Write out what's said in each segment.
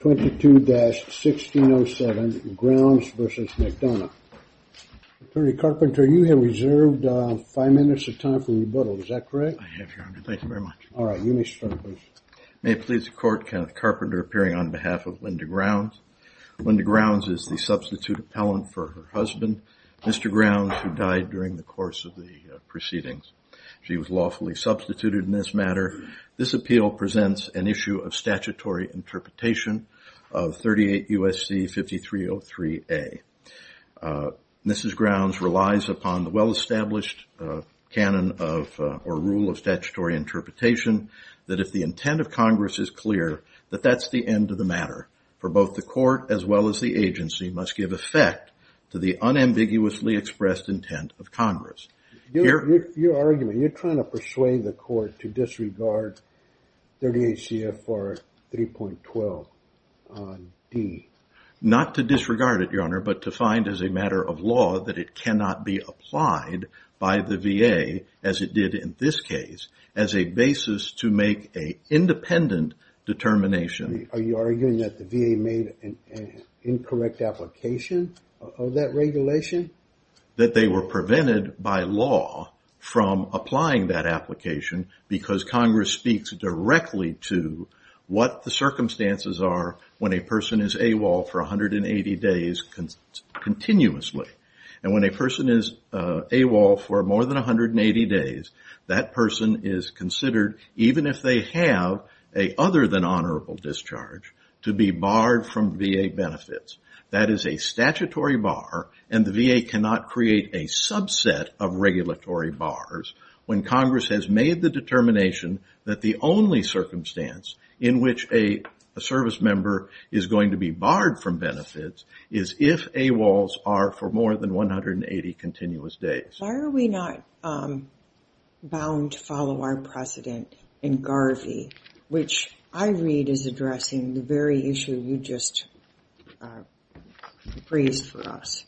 22-1607, Grounds v. McDonough. Attorney Carpenter, you have reserved five minutes of time for rebuttal. Is that correct? I have, Your Honor. Thank you very much. All right. You may start, please. May it please the Court, Kenneth Carpenter appearing on behalf of Linda Grounds. Linda Grounds is the substitute appellant for her husband, Mr. Grounds, who died during the course of the proceedings. She was lawfully substituted in this matter. This appeal presents an issue of statutory interpretation of 38 U.S.C. 5303A. Mrs. Grounds relies upon the well-established rule of statutory interpretation that if the intent of Congress is clear, that that's the end of the matter, for both the Court as well as the agency must give effect to the unambiguously expressed intent of Congress. Your argument, you're trying to persuade the Court to disregard 38 C.F.R. 3.12 D. Not to disregard it, Your Honor, but to find as a matter of law that it cannot be applied by the VA, as it did in this case, as a basis to make an independent determination. Are you arguing that the VA made an incorrect application of that regulation? I'm arguing that they were prevented by law from applying that application because Congress speaks directly to what the circumstances are when a person is AWOL for 180 days continuously. And when a person is AWOL for more than 180 days, that person is considered, even if they have a other than honorable discharge, to be barred from VA benefits. That is a statutory bar, and the VA cannot create a subset of regulatory bars, when Congress has made the determination that the only circumstance in which a service member is going to be barred from benefits is if AWOLs are for more than 180 continuous days. Why are we not bound to follow our precedent in Garvey, which I read is addressing the very issue you just phrased for us?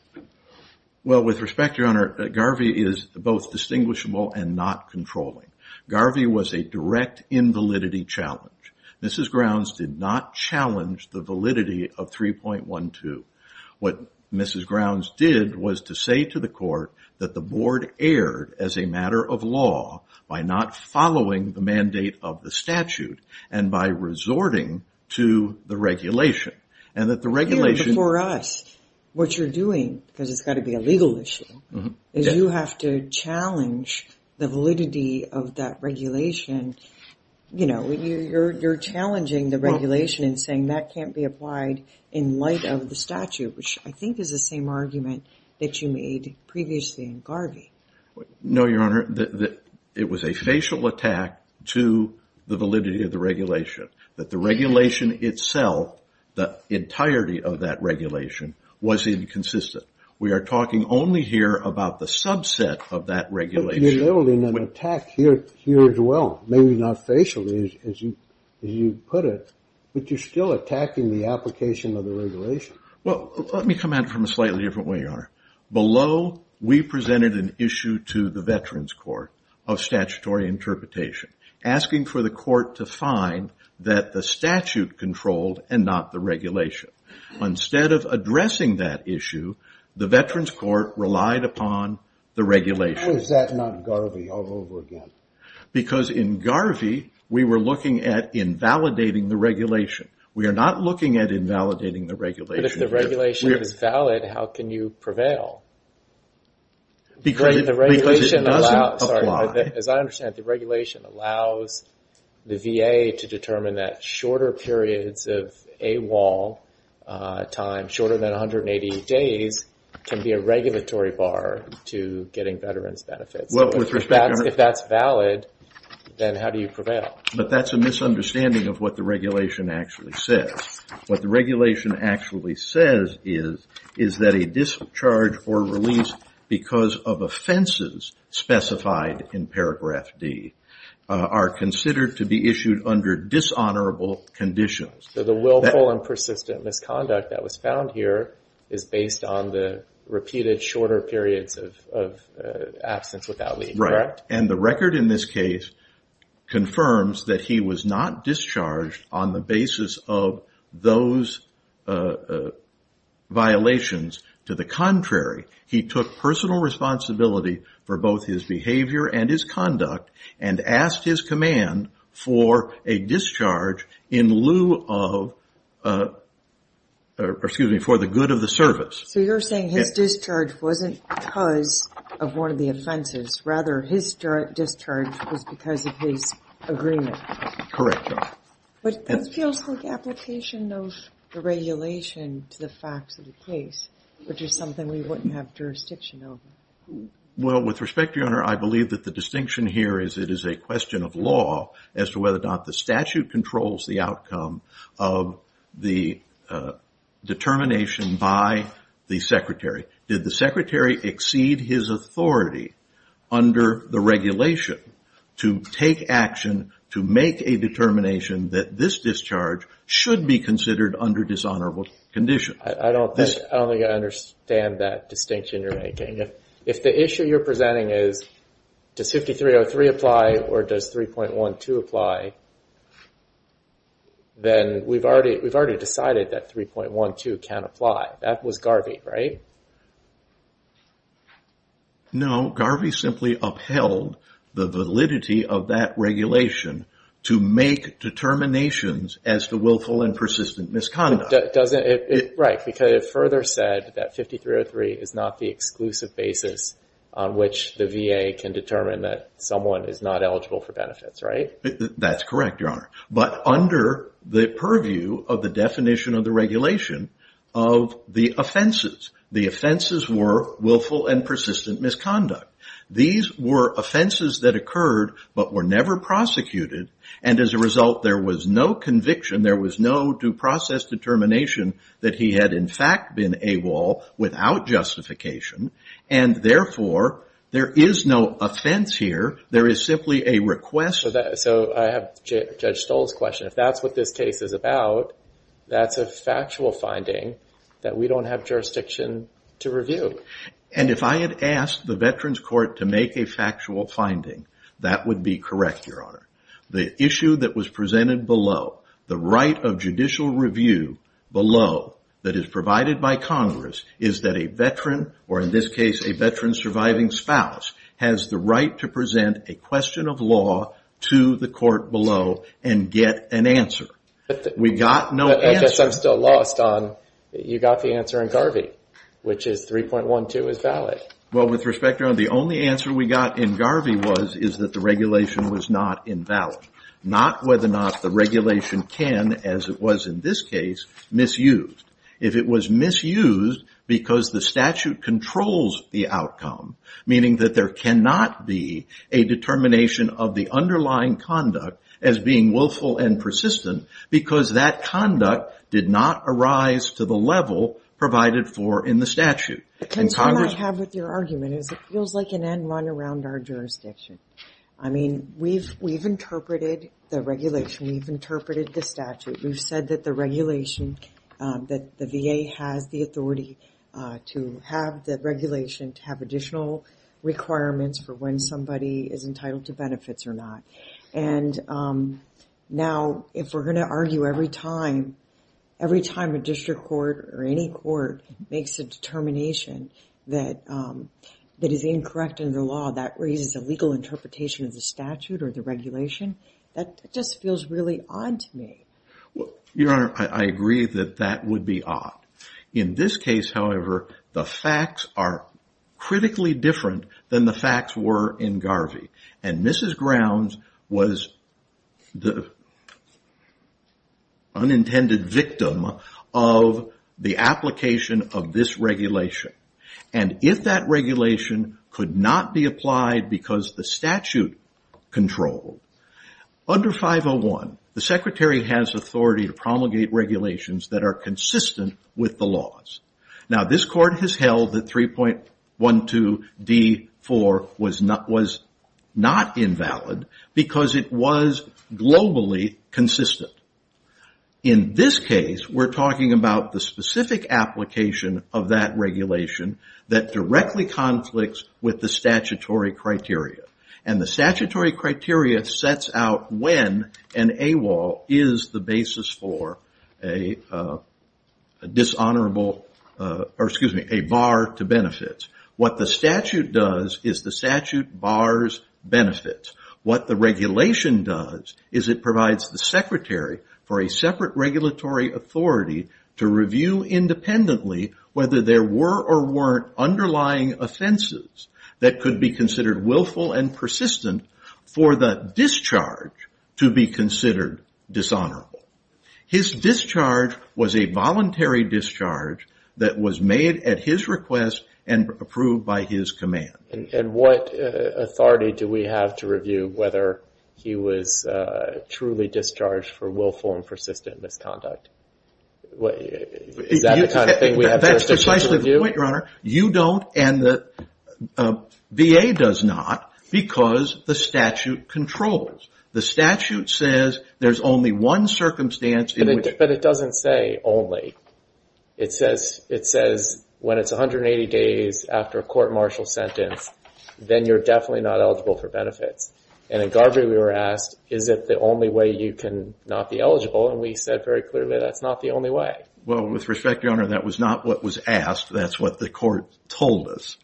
Well, with respect, Your Honor, Garvey is both distinguishable and not controlling. Garvey was a direct invalidity challenge. Mrs. Grounds did not challenge the validity of 3.12. What Mrs. Grounds did was to say to the court that the board erred as a matter of law by not following the mandate of the statute and by resorting to the regulation. Before us, what you're doing, because it's got to be a legal issue, is you have to challenge the validity of that regulation. You're challenging the regulation and saying that can't be applied in light of the statute, which I think is the same argument that you made previously in Garvey. No, Your Honor. It was a facial attack to the validity of the regulation, that the regulation itself, the entirety of that regulation, was inconsistent. We are talking only here about the subset of that regulation. You're building an attack here as well, maybe not facially, as you put it, but you're still attacking the application of the regulation. Well, let me come at it from a slightly different way, Your Honor. Below, we presented an issue to the Veterans Court of statutory interpretation, asking for the court to find that the statute controlled and not the regulation. Instead of addressing that issue, the Veterans Court relied upon the regulation. Why was that not Garvey all over again? Because in Garvey, we were looking at invalidating the regulation. We are not looking at invalidating the regulation here. But if the regulation is valid, how can you prevail? Because it doesn't apply. As I understand it, the regulation allows the VA to determine that shorter periods of AWOL time, shorter than 180 days, can be a regulatory bar to getting veterans benefits. If that's valid, then how do you prevail? But that's a misunderstanding of what the regulation actually says. What the regulation actually says is that a discharge or release because of offenses specified in paragraph D are considered to be issued under dishonorable conditions. So the willful and persistent misconduct that was found here is based on the repeated shorter periods of absence without leave. Right. And the record in this case confirms that he was not discharged on the basis of those violations. To the contrary, he took personal responsibility for both his behavior and his conduct and asked his command for a discharge in lieu of, or excuse me, for the good of the service. So you're saying his discharge wasn't because of one of the offenses. Rather, his discharge was because of his agreement. Correct. But that feels like application of the regulation to the facts of the case, which is something we wouldn't have jurisdiction over. Well, with respect to your honor, I believe that the distinction here is it is a question of law as to whether or not the statute controls the outcome of the determination by the secretary. Did the secretary exceed his authority under the regulation to take action to make a determination that this discharge should be considered under dishonorable conditions? I don't think I understand that distinction you're making. If the issue you're presenting is, does 5303 apply or does 3.12 apply, then we've already decided that 3.12 can apply. That was Garvey, right? No, Garvey simply upheld the validity of that regulation to make determinations as to willful and persistent misconduct. Right, because it further said that 5303 is not the exclusive basis on which the VA can determine that someone is not eligible for benefits, right? That's correct, your honor. But under the purview of the definition of the regulation of the offenses, the offenses were willful and persistent misconduct. These were offenses that occurred but were never prosecuted, and as a result there was no conviction, there was no due process determination that he had in fact been AWOL without justification, and therefore there is no offense here. There is simply a request. So I have Judge Stoll's question. If that's what this case is about, that's a factual finding that we don't have jurisdiction to review. And if I had asked the Veterans Court to make a factual finding, that would be correct, your honor. The issue that was presented below, the right of judicial review below that is provided by Congress, is that a veteran, or in this case a veteran's surviving spouse, has the right to present a question of law to the court below and get an answer. We got no answer. I guess I'm still lost on you got the answer in Garvey, which is 3.12 is valid. Well, with respect, your honor, the only answer we got in Garvey was that the regulation was not invalid. Not whether or not the regulation can, as it was in this case, misuse. If it was misused because the statute controls the outcome, meaning that there cannot be a determination of the underlying conduct as being willful and persistent because that conduct did not arise to the level provided for in the statute. The concern I have with your argument is it feels like an end run around our jurisdiction. I mean, we've interpreted the regulation. We've interpreted the statute. We've said that the regulation, that the VA has the authority to have the regulation, to have additional requirements for when somebody is entitled to benefits or not. And now if we're going to argue every time a district court or any court makes a determination that is incorrect in the law, that raises a legal interpretation of the statute or the regulation, that just feels really odd to me. Your honor, I agree that that would be odd. In this case, however, the facts are critically different than the facts were in Garvey. And Mrs. Grounds was the unintended victim of the application of this regulation. And if that regulation could not be applied because the statute controlled, under 501, the secretary has authority to promulgate regulations that are consistent with the laws. Now this court has held that 3.12d.4 was not invalid because it was globally consistent. In this case, we're talking about the specific application of that regulation that directly conflicts with the statutory criteria. And the statutory criteria sets out when an AWOL is the basis for a dishonorable violation. Excuse me, a bar to benefits. What the statute does is the statute bars benefits. What the regulation does is it provides the secretary for a separate regulatory authority to review independently whether there were or weren't underlying offenses that could be considered willful and persistent for the discharge to be considered dishonorable. His discharge was a voluntary discharge that was made at his request and approved by his command. And what authority do we have to review whether he was truly discharged for willful and persistent misconduct? Is that the kind of thing we have to review? That's precisely the point, Your Honor. You don't and the VA does not because the statute controls. The statute says there's only one circumstance in which... But it doesn't say only. It says when it's 180 days after a court-martial sentence, then you're definitely not eligible for benefits. And at Garber we were asked, is it the only way you can not be eligible? And we said very clearly that's not the only way. Well, with respect, Your Honor, that was not what was asked. That's what the court told us.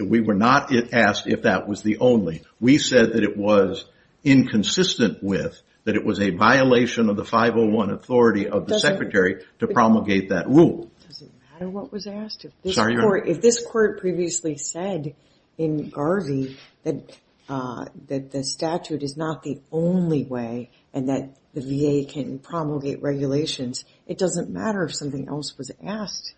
We were not asked if that was the only. We said that it was inconsistent with, that it was a violation of the 501 authority of the secretary to promulgate that rule. Does it matter what was asked? If this court previously said in Garvey that the statute is not the only way and that the VA can promulgate regulations, it doesn't matter if something else was asked.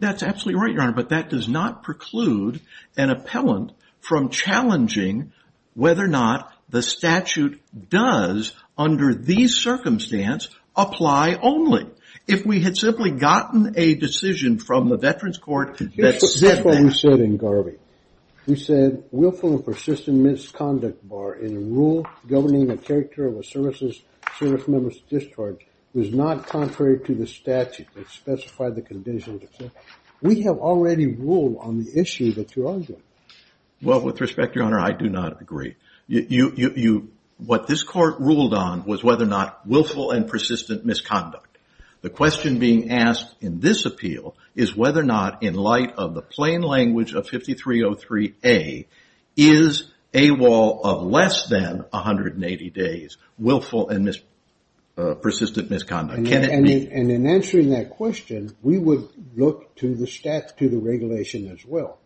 That's absolutely right, Your Honor, but that does not preclude an appellant from challenging whether or not the statute does, under these circumstances, apply only. If we had simply gotten a decision from the Veterans Court that said that. That's what we said in Garvey. We said willful and persistent misconduct bar in a rule governing a character of a service member's discharge was not contrary to the statute that specified the conditions. We have already ruled on the issue that you're arguing. Well, with respect, Your Honor, I do not agree. What this court ruled on was whether or not willful and persistent misconduct. The question being asked in this appeal is whether or not, in light of the plain language of 5303A, is AWOL of less than 180 days willful and persistent misconduct. And in answering that question, we would look to the regulation as well.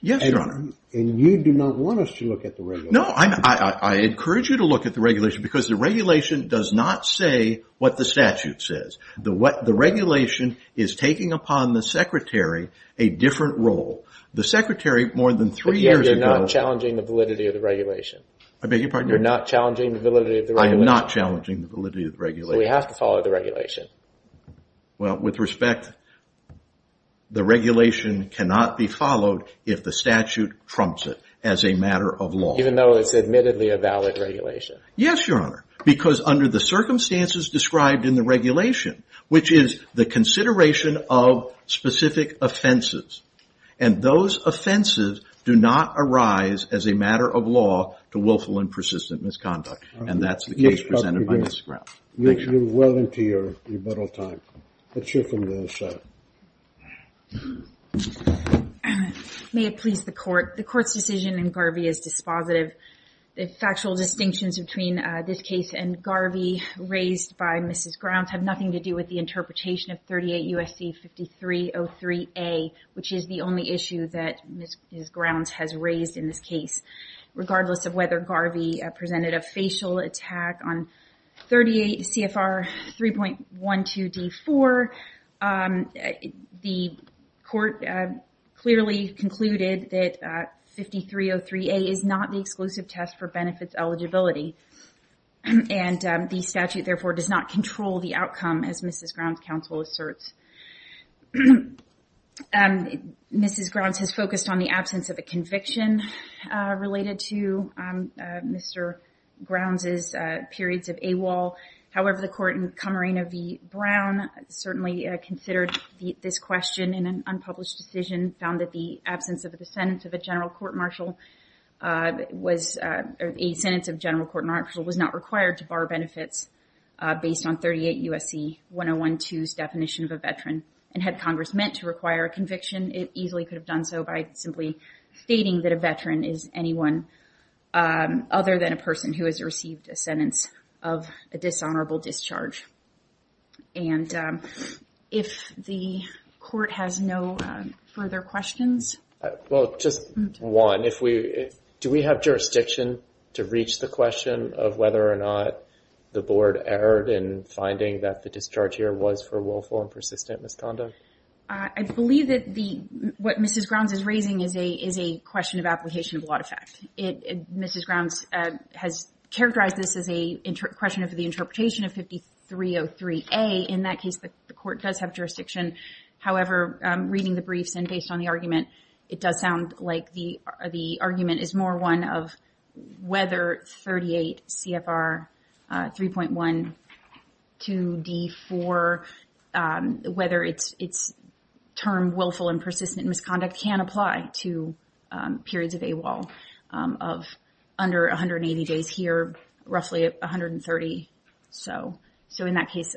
Yes, Your Honor. And you do not want us to look at the regulation. No, I encourage you to look at the regulation because the regulation does not say what the statute says. The regulation is taking upon the secretary a different role. You're not challenging the validity of the regulation. I am not challenging the validity of the regulation. Well, with respect, the regulation cannot be followed if the statute trumps it as a matter of law. Even though it's admittedly a valid regulation. Yes, Your Honor, because under the circumstances described in the regulation, which is the consideration of specific offenses. And those offenses do not arise as a matter of law to willful and persistent misconduct. And that's the case presented by this trial. Makes it well into your rebuttal time. Let's hear from the other side. May it please the court. The court's decision in Garvey is dispositive. The factual distinctions between this case and Garvey raised by Mrs. Grounds have nothing to do with the interpretation of 38 U.S.C. 5303A, which is the only issue that Mrs. Grounds has raised in this case. Regardless of whether Garvey presented a facial attack on 38 CFR 3.12 D4, the court clearly concluded that 5303A is not the exclusive test for benefits eligibility. And the statute therefore does not control the outcome as Mrs. Grounds counsel asserts. Mrs. Grounds has focused on the absence of a conviction related to Mr. Grounds' periods of AWOL. However, the court in Camarena v. Brown certainly considered this question in an unpublished decision, found that the absence of a sentence of a general court martial was not required to bar benefits based on 38 U.S.C. 101.2's definition of a veteran. And had Congress meant to require a conviction, it easily could have done so by simply stating that a veteran is anyone other than a person who has received a sentence of a dishonorable discharge. And if the court has no further questions. Well, just one. Do we have jurisdiction to reach the question of whether or not the board erred in finding that the discharge here was for willful and persistent misconduct? I believe that what Mrs. Grounds is raising is a question of application of a lot of fact. Mrs. Grounds has characterized this as a question of the interpretation of 5303A. In that case, the court does have jurisdiction. However, reading the briefs and based on the argument, it does sound like the argument is more one of whether 38 CFR 3.12D4, whether its term willful and persistent misconduct can apply to periods of AWOL of under 180 days here, roughly 130. So in that case,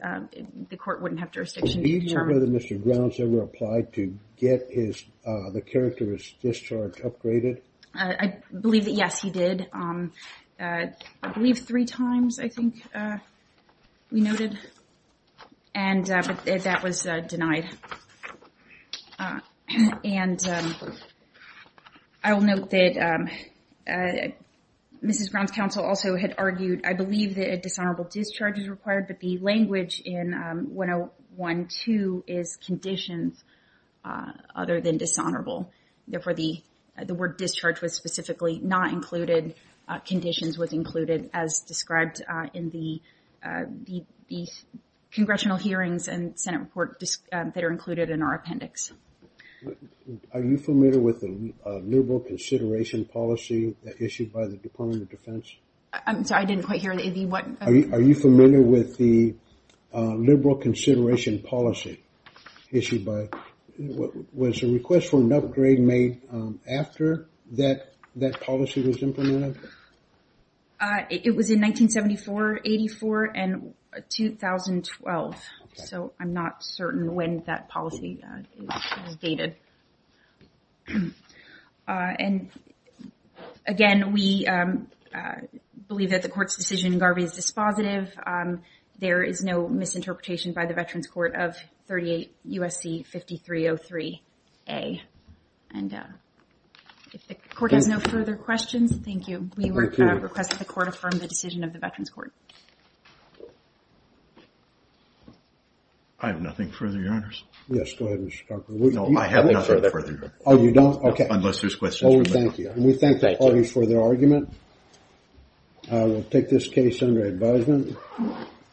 the court wouldn't have jurisdiction. Do you know whether Mr. Grounds ever applied to get the characterist discharge upgraded? I believe that, yes, he did. I believe three times, I think, we noted. And that was denied. And I will note that Mrs. Grounds' counsel also had argued, I believe, that a dishonorable discharge is required, but the language in 101.2 is conditions other than dishonorable. Therefore, the word discharge was specifically not included. Conditions was included, as described in the congressional hearings and Senate report that are included in our appendix. Are you familiar with the liberal consideration policy issued by the Department of Defense? I'm sorry, I didn't quite hear. Are you familiar with the liberal consideration policy issued by, was the request for an upgrade made after that policy was implemented? It was in 1974-84 and 2012. So I'm not certain when that policy was dated. And again, we believe that the court's decision in Garvey is dispositive. There is no misinterpretation by the Veterans Court of 38 U.S.C. 5303A. And if the court has no further questions, thank you. I have nothing further, Your Honors. Yes, go ahead, Mr. Tucker. I will take this case under advisement.